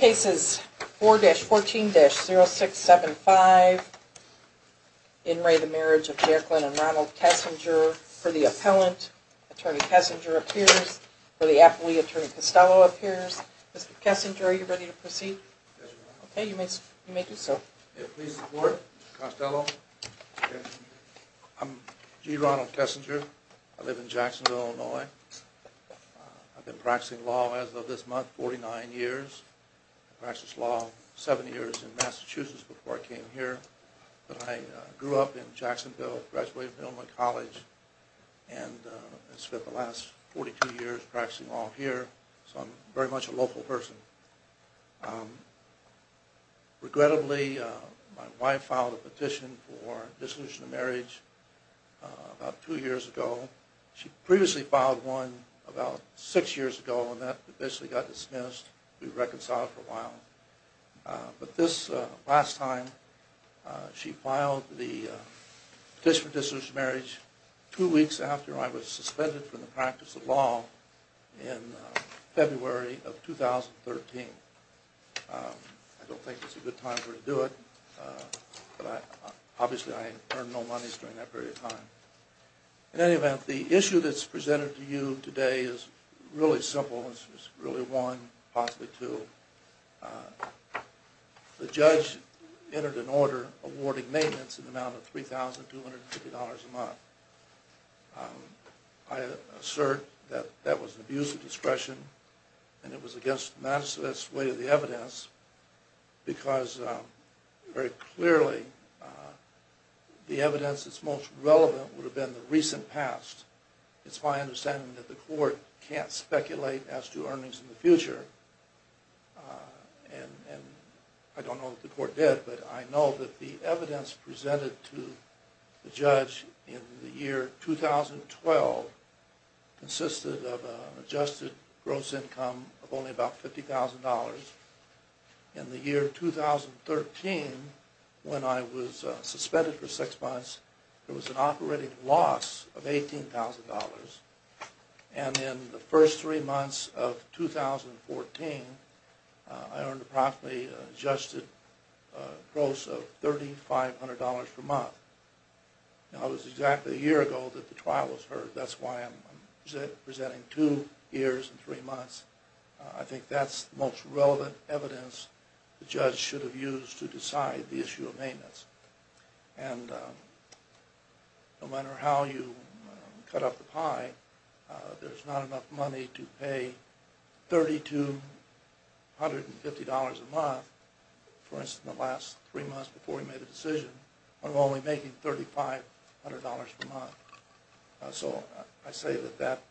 Cases 4-14-0675. In re the marriage of Jekyll and Ronald Kessinger. For the appellant, attorney Kessinger appears. For the appellee, attorney Costello appears. Mr. Kessinger, are you ready to proceed? Yes. Okay, you may you may do so. Please report. Costello. I'm G. Ronald Kessinger. I live in Jacksonville, Illinois. I've been practicing law as of this month 49 years. I practiced law seven years in Massachusetts before I came here. But I grew up in Jacksonville, graduated from Illinois College and spent the last 42 years practicing law here. So I'm very much a local person. Regrettably, my wife filed a petition for dissolution of marriage about two years ago. She previously filed one about six years ago and that officially got dismissed. We reconciled for a while. But this last time she filed the petition for dissolution of marriage two weeks after I was suspended from the practice of law in February of 2013. I don't think it's a good time for her to do it. But obviously I earned no monies during that period of time. In any event, the issue that's really one, possibly two. The judge entered an order awarding maintenance in the amount of $3,250 a month. I assert that that was an abuse of discretion and it was against the Massachusetts way of the evidence because very clearly the evidence that's most relevant would to earnings in the future. And I don't know that the court did, but I know that the evidence presented to the judge in the year 2012 consisted of an adjusted gross income of only about $50,000. In the year 2013, when I was suspended for six months, there was an operating loss of $18,000. And in the first three months of 2014, I earned approximately adjusted gross of $3,500 per month. Now it was exactly a year ago that the trial was heard. That's why I'm presenting two years and three months. I think that's the most relevant evidence the judge should have used to decide the issue of maintenance. And no matter how you cut up the pie, there's not enough money to pay $3,250 a month. For instance, in the last three months before he made a decision, I'm only making $3,500 per month. So I say that that,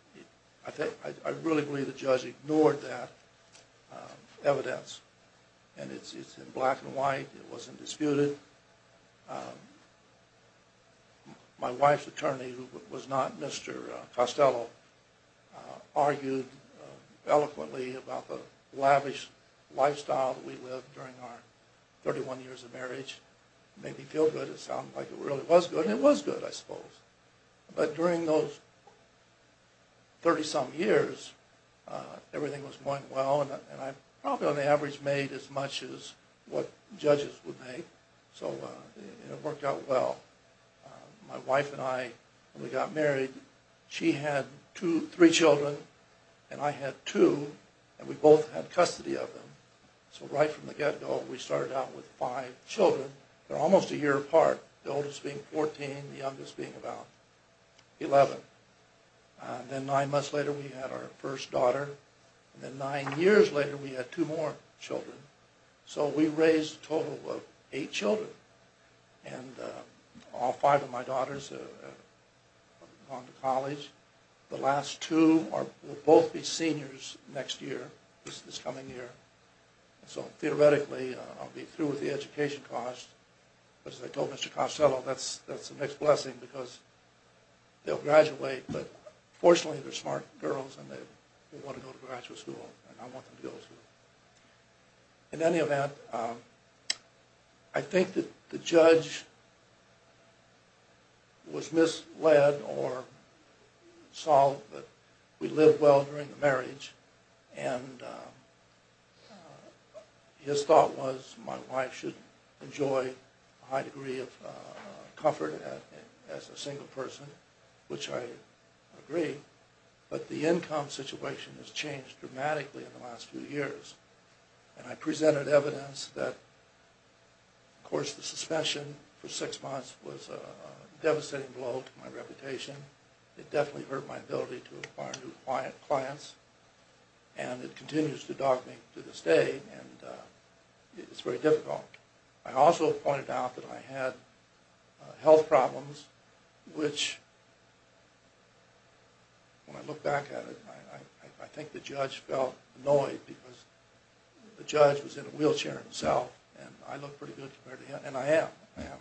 I really believe the judge ignored that evidence. And it's in black and white. It wasn't disputed. My wife's attorney, who was not Mr. Costello, argued eloquently about the lavish lifestyle that we lived during our 31 years of marriage. It made me feel good. It sounded like it really was good, and it was good, I suppose. But during those 30-some years, everything was going well, and I probably on the average made as much as what judges would make. So it worked out well. My wife and I, when we got married, she had three children, and I had two, and we both had custody of them. So right from the get-go, we started out with five children. They're almost a year apart, the oldest being 14, the youngest being about 11. And then nine months later, we had our first daughter, and then nine years later, we had two more children. So we raised a total of eight children, and all five of my daughters have gone to college. The last two will both be seniors next year, this coming year. So theoretically, I'll be through with the education cost. But as I told Mr. Costello, that's the next blessing, because they'll graduate. But they're smart girls, and they want to go to graduate school, and I want them to go to school. In any event, I think that the judge was misled or saw that we lived well during the marriage, and his thought was my wife should enjoy a high degree of comfort as a single person, which I agree. But the income situation has changed dramatically in the last few years, and I presented evidence that, of course, the suspension for six months was a devastating blow to my reputation. It definitely hurt my ability to acquire new clients, and it continues to dog me to this day, and it's very difficult. I also pointed out that I had health problems, which when I look back at it, I think the judge felt annoyed because the judge was in a wheelchair himself, and I look pretty good compared to him, and I am. I have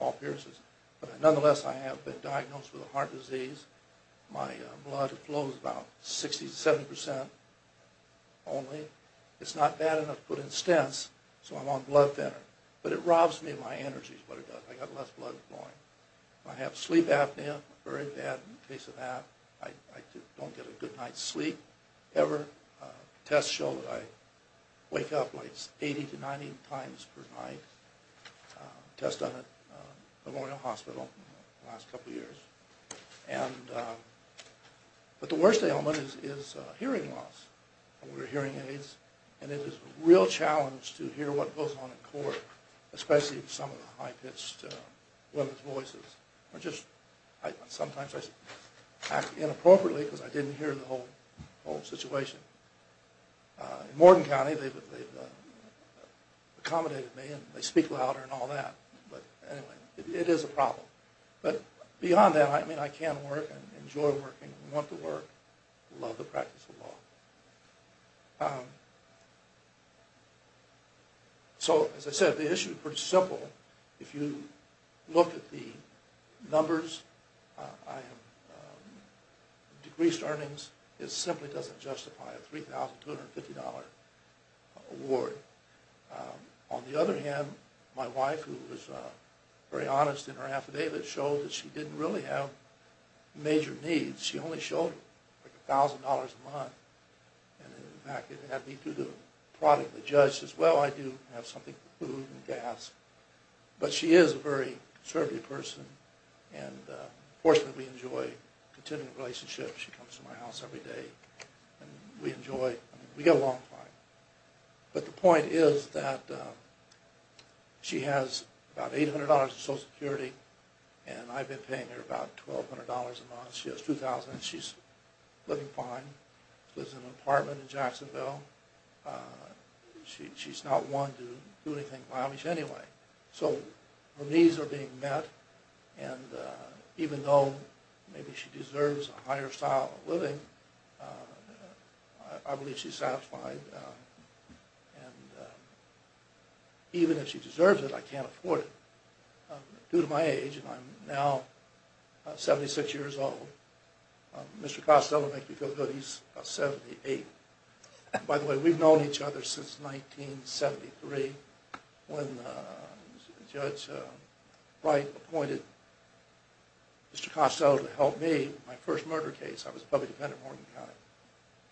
all pierces, but nonetheless, I have been diagnosed with a heart disease. My blood flows about 60 to 70 percent only. It's not bad enough to put in stents, so I'm on blood thinner, but it robs me of my energy, I got less blood flowing. I have sleep apnea, very bad in the case of that. I don't get a good night's sleep ever. Tests show that I wake up like 80 to 90 times per night. Tested at Memorial Hospital the last couple of years, but the worst ailment is hearing loss. We're hearing aids, and it is a real challenge to hear what goes on in court, especially if some of the high-pitched women's voices are just, sometimes I act inappropriately because I didn't hear the whole situation. In Morton County, they've accommodated me, and they speak louder and all that, but anyway, it is a problem, but beyond that, I mean, I can work and enjoy working, want to work, love the practice of law. So, as I said, the issue is pretty simple. If you look at the numbers, decreased earnings, it simply doesn't justify a $3,250 award. On the other hand, my wife, who was very honest in her shoulder, like $1,000 a month, and in fact, it had me through the product of the judge, says, well, I do have something food and gas, but she is a very conservative person, and fortunately, we enjoy continuing relationships. She comes to my house every day, and we enjoy, we get along fine, but the point is that she has about $800 in Social Security, and I've been paying her about $1,200 a month. She has $2,000, and she's living fine. She lives in an apartment in Jacksonville. She's not one to do anything lavish anyway, so her needs are being met, and even though maybe she deserves a higher style of living, I believe she's satisfied, and even if she deserves it, I can't afford it. Due to my age, and I'm now 76 years old, Mr. Costello, make you feel good, he's about 78. By the way, we've known each other since 1973, when Judge Wright appointed Mr. Costello to help me with my first murder case. I was a public defendant in Morgan County,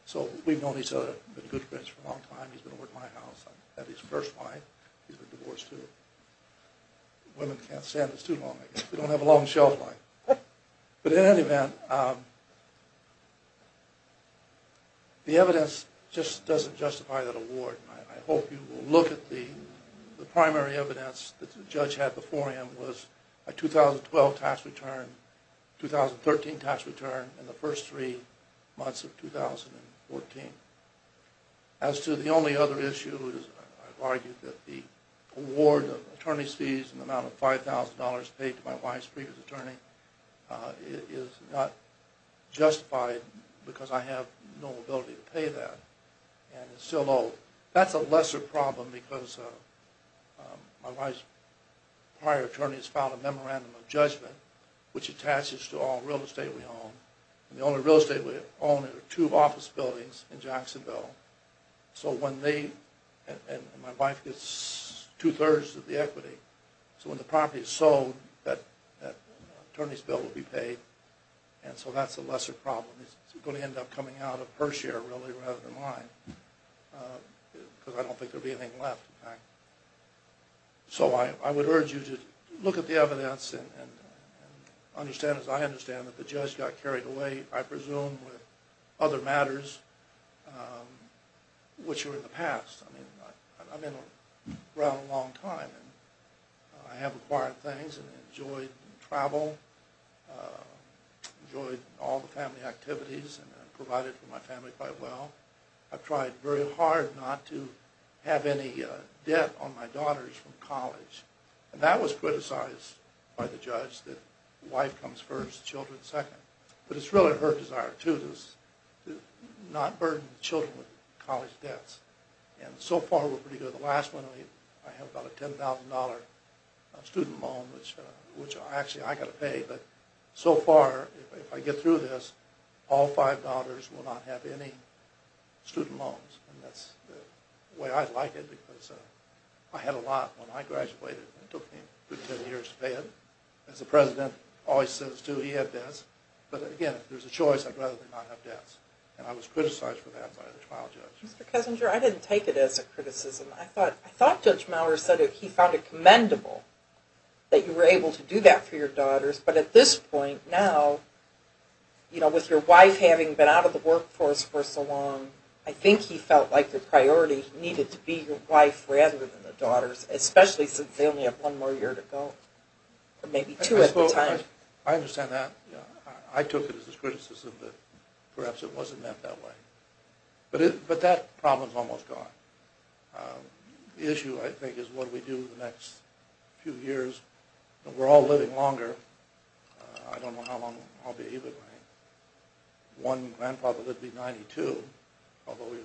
so we've known each other. We've been good friends for a long time. He's been over at my house. I'm his first wife. He's been divorced too. Women can't stand us too long. We don't have a long shelf life, but in any event, the evidence just doesn't justify that award. I hope you will look at the primary evidence that the judge had before him was a 2012 tax return, 2013 tax return, and the first three months of 2014. As to the only other issue, I've argued that the award of attorney's fees and the amount of $5,000 paid to my wife's previous attorney is not justified because I have no ability to pay that, and it's still owed. That's a lesser problem because my wife's prior attorney has filed a memorandum of judgment, which attaches to all real estate we own, and the only real estate we own are two office buildings in Jacksonville, so when they, and my wife gets two-thirds of the equity, so when the property is sold, that attorney's bill will be paid, and so that's a lesser problem. It's going to end up coming out of her share, really, rather than mine because I don't think there'll be anything left. So I would urge you to look at the evidence and understand, as I understand, that the judge got carried away, I presume, with other matters which were in the past. I mean, I've been around a long time, and I have acquired things and enjoyed travel, enjoyed all the family activities, and provided for my family quite well. I've tried very hard not to have any debt on my daughters from college, and that was criticized by the judge, that wife comes first, children second, but it's really her desire, too, to not burden the children with college debts, and so far we're pretty good. The last one, I have about a $10,000 student loan, which actually I got to pay, but so far, if I get through this, all five daughters will not have any student loans, and that's the way I'd like it because I had a lot when I graduated. It took me a good 10 years to pay it. As the president always says, too, he had debts, but again, if there's a choice, I'd rather not have debts, and I was criticized for that by the trial judge. Mr. Kessinger, I didn't take it as a criticism. I thought Judge Maurer said he found it commendable that you were able to do that for your daughters, but at this point now, you know, with your wife having been out of the workforce for so long, I think he felt like the priority needed to be your wife rather than the daughters, especially since they only have one more year to go, or maybe two at the time. I understand that. I took it as his criticism, but perhaps it wasn't meant that way, but that problem's almost gone. The issue, I think, is what do we do the next few years. We're all living longer. I don't know how long I'll be, but my one grandfather lived to be 92, although he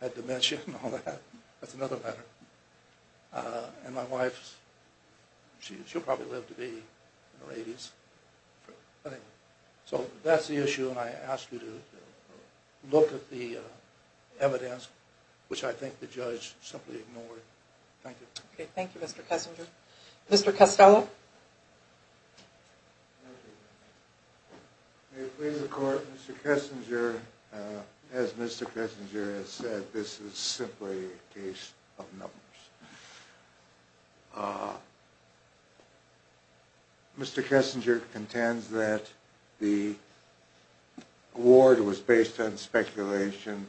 had dementia and all that. That's another matter, and my wife, she'll probably live to be in her 80s. Anyway, so that's the issue, and I ask you to look at the evidence, which I think the judge simply ignored. Thank you. Okay, thank you, Mr. Kessinger. Mr. Costello? May it please the Court, Mr. Kessinger, as Mr. Kessinger has said, this is simply a case of numbers. Mr. Kessinger contends that the award was based on speculation,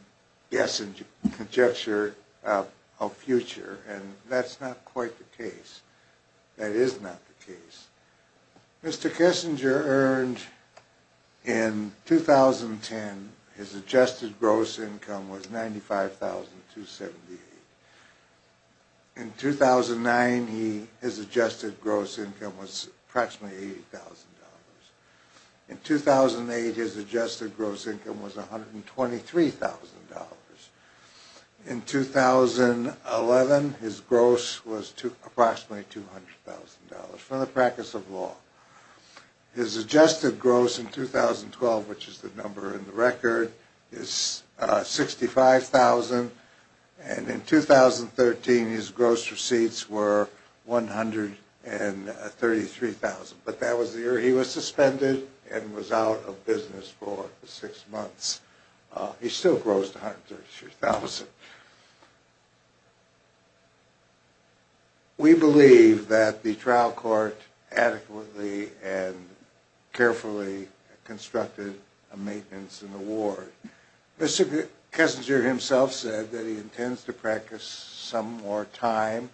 yes, and conjecture of future, and that's not quite the case. That is not the case. Mr. Kessinger earned in 2010, his adjusted gross income was $95,278. In 2009, his adjusted gross income was approximately $80,000. In 2008, his adjusted gross income was $123,000. In 2011, his gross was approximately $200,000 from the practice of law. His adjusted gross in 2012, which is the highest number in the record, is $65,000, and in 2013, his gross receipts were $133,000. But that was the year he was suspended and was out of business for six months. He still grossed $133,000. We believe that the trial court adequately and carefully constructed a maintenance in the ward. Mr. Kessinger himself said that he intends to practice some more time,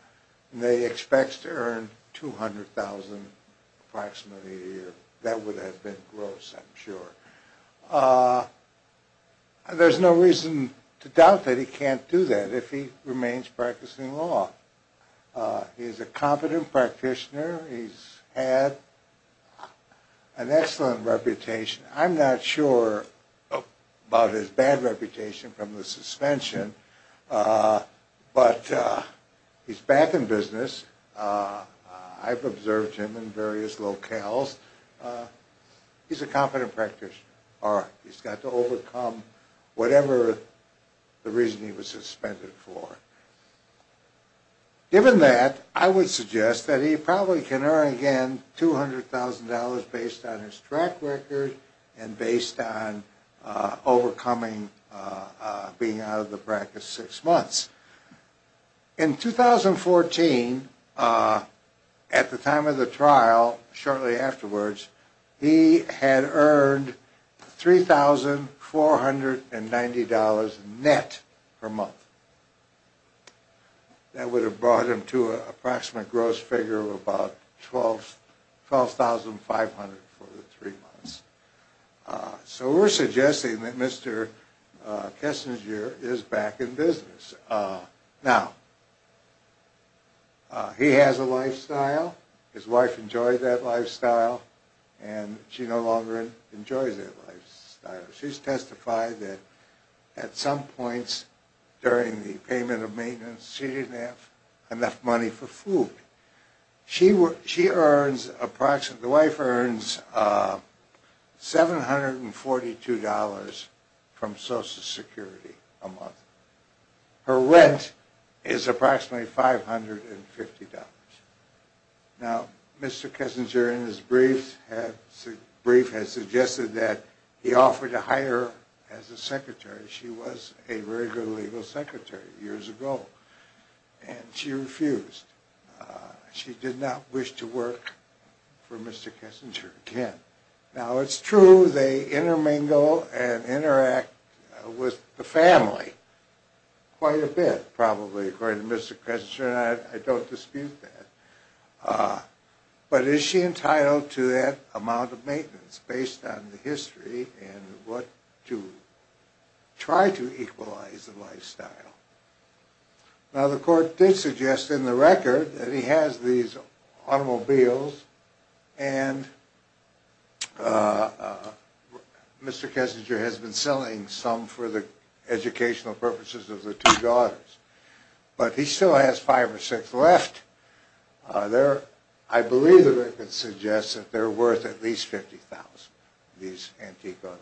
and that he expects to earn $200,000 approximately a year. That would have been gross, I'm sure. There's no reason to doubt that he's can't do that if he remains practicing law. He's a competent practitioner. He's had an excellent reputation. I'm not sure about his bad reputation from the suspension, but he's back in business. I've observed him in various locales. He's a competent practitioner. He's got to overcome whatever the reason he was suspended for. Given that, I would suggest that he probably can earn again $200,000 based on his track record and based on overcoming being out of the practice six months. In 2014, at the time of the trial, shortly afterwards, he had earned $3,490 net per month. That would have brought him to an approximate gross figure of about $12,500 for the three months. So we're suggesting that Mr. Kessinger is back in business. Now, he has a lifestyle. His wife enjoyed that lifestyle, and she no longer enjoys that lifestyle. She's testified that at some points during the payment of $742 from Social Security a month. Her rent is approximately $550. Now, Mr. Kessinger in his brief has suggested that he offered to hire her as a secretary. She was a very good legal secretary years ago, and she refused. She did not wish to work for Mr. Kessinger again. Now, it's true they intermingle and interact with the family quite a bit, probably, according to Mr. Kessinger, and I don't dispute that. But is she entitled to that amount of maintenance based on the history and what to try to equalize the lifestyle? Now, the court did suggest in the record that he has these automobiles, and Mr. Kessinger has been selling some for the educational purposes of the two daughters. But he still has five or six left. I believe the record suggests that they're worth at least $50,000, these antique automobiles.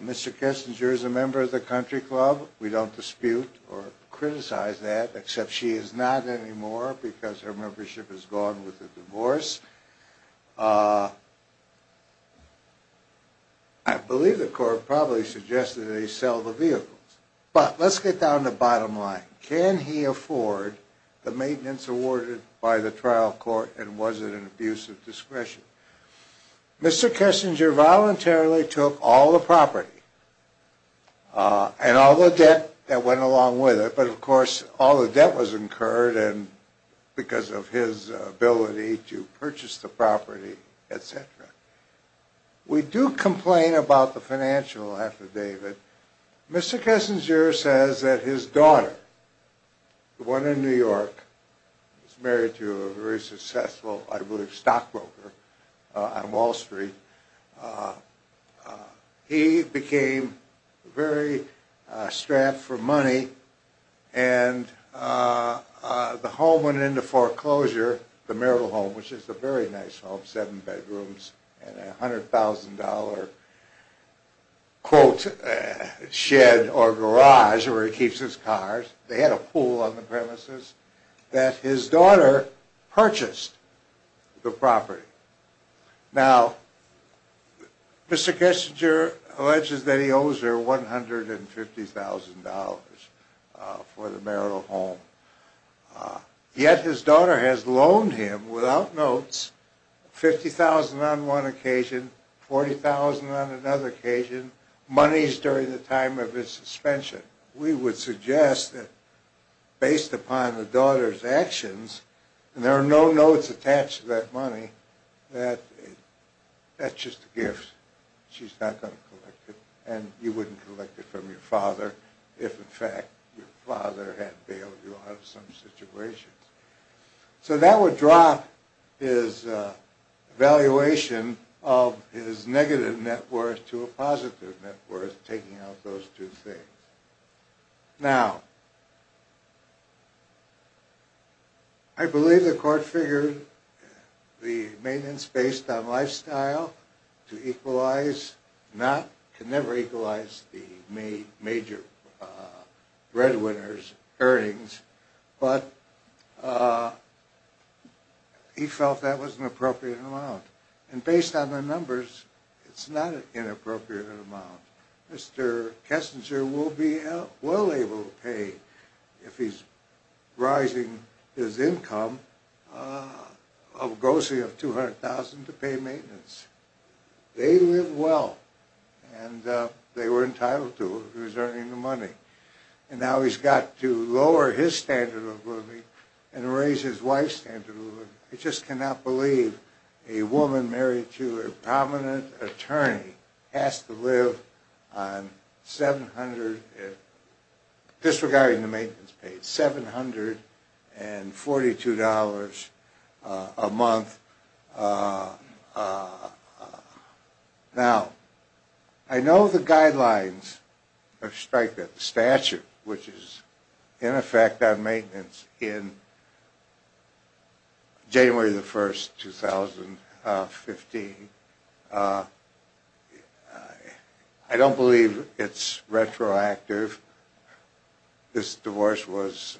Mr. Kessinger is a member of the Country Club. We don't dispute or criticize that, except she is not anymore because her membership has gone with the divorce. I believe the court probably suggested they sell the vehicles. But let's get down to the bottom line. Can he afford the maintenance awarded by the trial court, and was it an abuse of discretion? Mr. Kessinger voluntarily took all the property and all the debt that went along with it, but of course, all the debt was incurred because of his ability to purchase the property, etc. We do complain about the financial affidavit. Mr. Kessinger says that his daughter, the one in New York, was married to a very successful, I believe, stockbroker on Wall Street. He became very strapped for money, and the home went into foreclosure, the marital home, which is a very nice home, seven bedrooms and a $100,000 quote, shed or garage where he keeps his cars. They had a pool on the premises, that his daughter purchased the property. Now, Mr. Kessinger alleges that he owes her $150,000 for the marital home. Yet his daughter has loaned him, without notes, $50,000 on one occasion, $40,000 on another occasion, monies during the time of his suspension. We would suggest that based upon the daughter's actions, and there are no notes attached to that money, that that's just a gift. She's not going to collect it, and you wouldn't collect it from your father if, in fact, your father had bailed you out of some situations. So that would drop his evaluation of his negative net worth to a positive net worth, taking out those two things. Now, I believe the court figured the maintenance based on lifestyle to equalize, not, can never equalize the major breadwinner's earnings, but he felt that was an appropriate amount. And based on the numbers, it's not an inappropriate amount. Mr. Kessinger will be well able to pay, if he's rising his income, of a grossing of $200,000 to pay maintenance. They live well, and they were entitled to it, he was earning the money. And now he's got to lower his standard of living and raise his wife's standard of living. I just cannot believe a woman married to a prominent attorney has to live on 700 – disregarding the maintenance paid – $742 a month. Now, I know the guidelines of the statute, which is in effect on maintenance in January 1st, 2015. I don't believe it's retroactive. I don't believe this divorce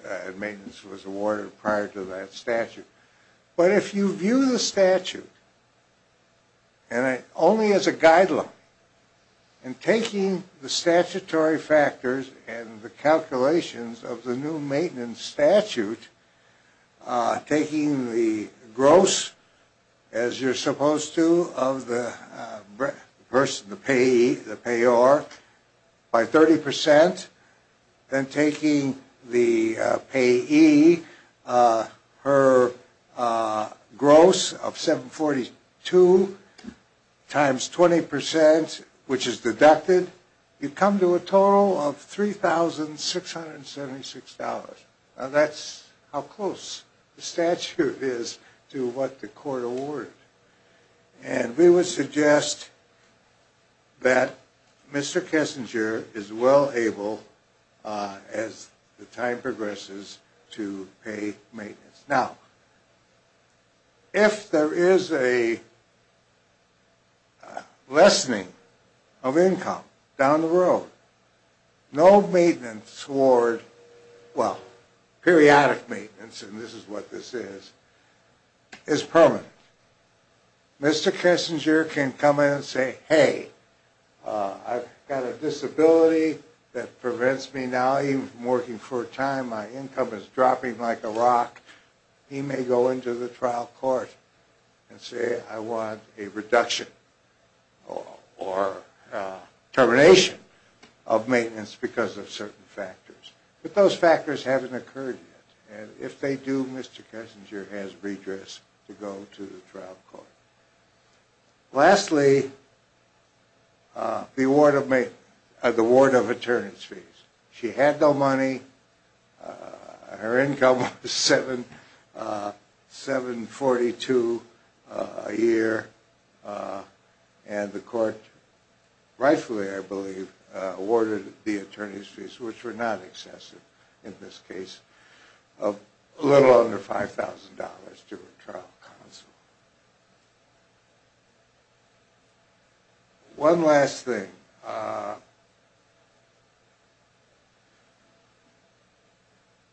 and maintenance was awarded prior to that statute. But if you view the statute only as a guideline, and taking the statutory factors and the calculations of the new maintenance statute, taking the gross, as you're supposed to, of the person, the payee, the payor, by 30%, then taking the payee, her gross of $742 times 20%, which is deducted, you come to a total of $3,676. Now, that's how close the statute is to what the court awarded. And we would suggest that Mr. Kessinger is well able, as the time progresses, to pay maintenance. Now, if there is a lessening of income down the road, no maintenance award – well, periodic maintenance, and this is what this is – is permanent. Mr. Kessinger can come in and say, hey, I've got a disability that prevents me now. I've been working for a time. My income is dropping like a rock. He may go into the trial court and say, I want a reduction or termination of maintenance because of certain factors. But those factors haven't occurred yet. And if they do, Mr. Kessinger has redress to go to the trial court. Lastly, the award of attorney's fees. She had no money. Her income was $742 a year. And the court rightfully, I believe, awarded the attorney's fees, which were not excessive in this case, of a little under $5,000 to a trial counsel. One last thing.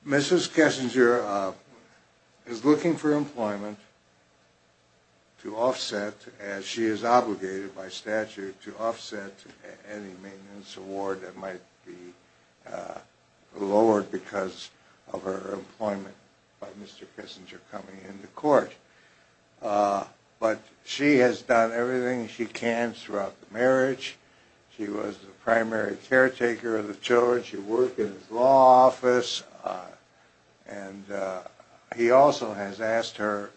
Mrs. Kessinger is looking for employment to offset, as she is obligated by statute, to offset any maintenance award that might be lowered because of her employment by Mr. Kessinger coming into court. But she has done everything she can throughout the marriage. She was the primary caretaker of the children. She worked in his law office. And he also has asked her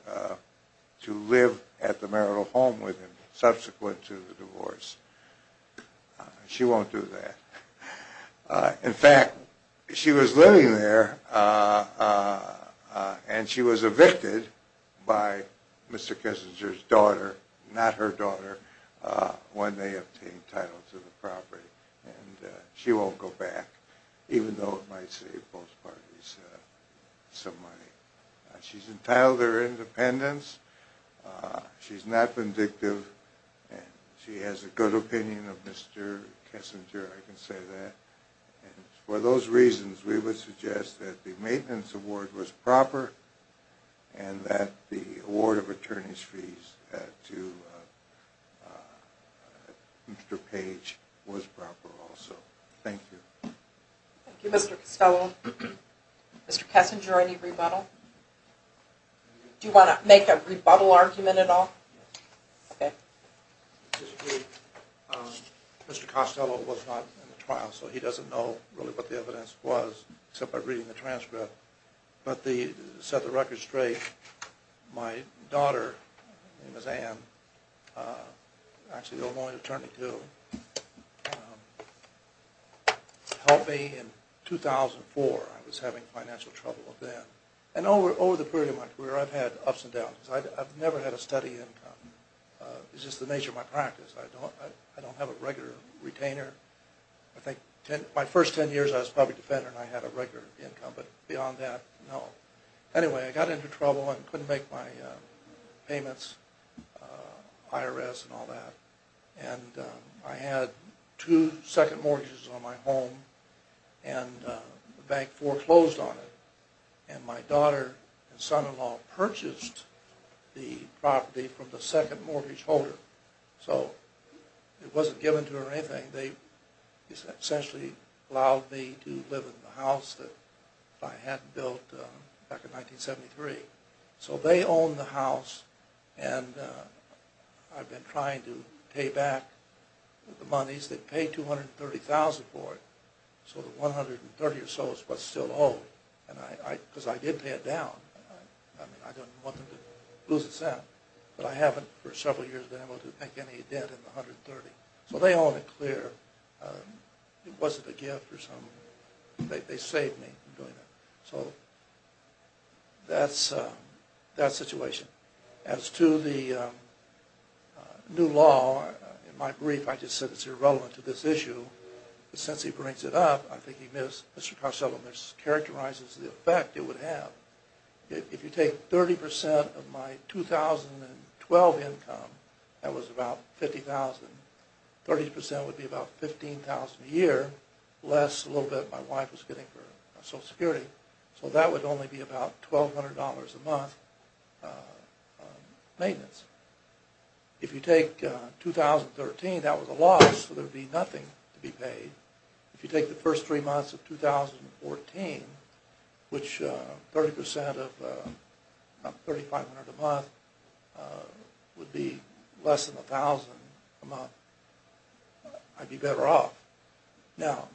to live at the marital home with him subsequent to the divorce. She won't do that. In fact, she was living there and she was evicted by Mr. Kessinger's daughter, not her daughter, when they obtained title to the property. And she won't go back, even though it might save both parties some money. She's entitled to her independence. She's not vindictive. And she has a good opinion of Mr. Kessinger, I can say that. And for those reasons, we would suggest that the maintenance award was proper and that the award of attorney's fees to Mr. Page was proper also. Thank you. Thank you, Mr. Costello. Mr. Kessinger, any rebuttal? Do you want to make a rebuttal argument at all? Mr. Costello was not in the trial, so he doesn't know really what the evidence was, except by reading the transcript. But to set the record straight, my daughter, Anne, actually the only attorney to, helped me in 2004. I was having financial trouble then. And over the period of my career, I've had ups and downs. I've never had a steady income. It's just the nature of my practice. I don't have a regular retainer. I think my first ten years, I was a public defender and I had a regular income. But beyond that, no. Anyway, I got into trouble and couldn't make my payments, IRS and all that. And I had two second mortgages on my home and the bank foreclosed on it. And my daughter and son-in-law purchased the property from the second mortgage holder. So it wasn't given to her or anything. They essentially allowed me to live in the house that I had built back in 1973. So they owned the house and I've been trying to pay back the monies. They paid $230,000 for it, so the $130,000 or so is what's still owed. And because I did pay it down, I didn't want them to lose a cent. But I haven't for several years been able to make any debt in the $130,000. So they own it clear. It wasn't a gift or something. They saved me from doing that. So that's the situation. As to the new law, in my brief I just said it's irrelevant to this issue. But since he brings it up, I think Mr. Carcello mischaracterizes the effect it would have. If you take 30% of my 2012 income, that was about $50,000, 30% would be about $15,000 a year, less a little bit my wife was getting for Social Security. So that would only be about $1,200 a month maintenance. If you take 2013, that was a loss, so there would be nothing to be paid. If you take the first three months of 2014, which 30% of $3,500 a month would be less than $1,000 a month, I'd be better off. Now,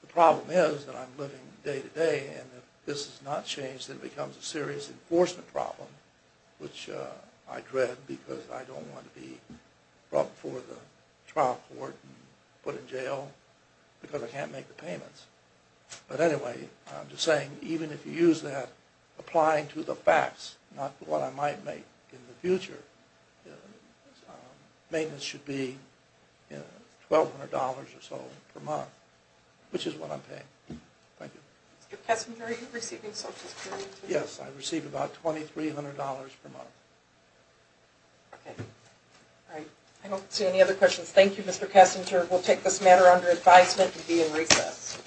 the problem is that I'm living day-to-day, and if this is not changed, it becomes a serious enforcement problem, which I dread because I don't want to be brought before the trial court and put in jail because I can't make the payments. But anyway, I'm just saying, even if you use that, applying to the facts, not what I might make in the future, maintenance should be $1,200 or so per month, which is what I'm paying. Thank you. Mr. Kessinger, are you receiving Social Security? Yes, I receive about $2,300 per month. I don't see any other questions. Thank you, Mr. Kessinger. We'll take this matter under advisement and be in recess.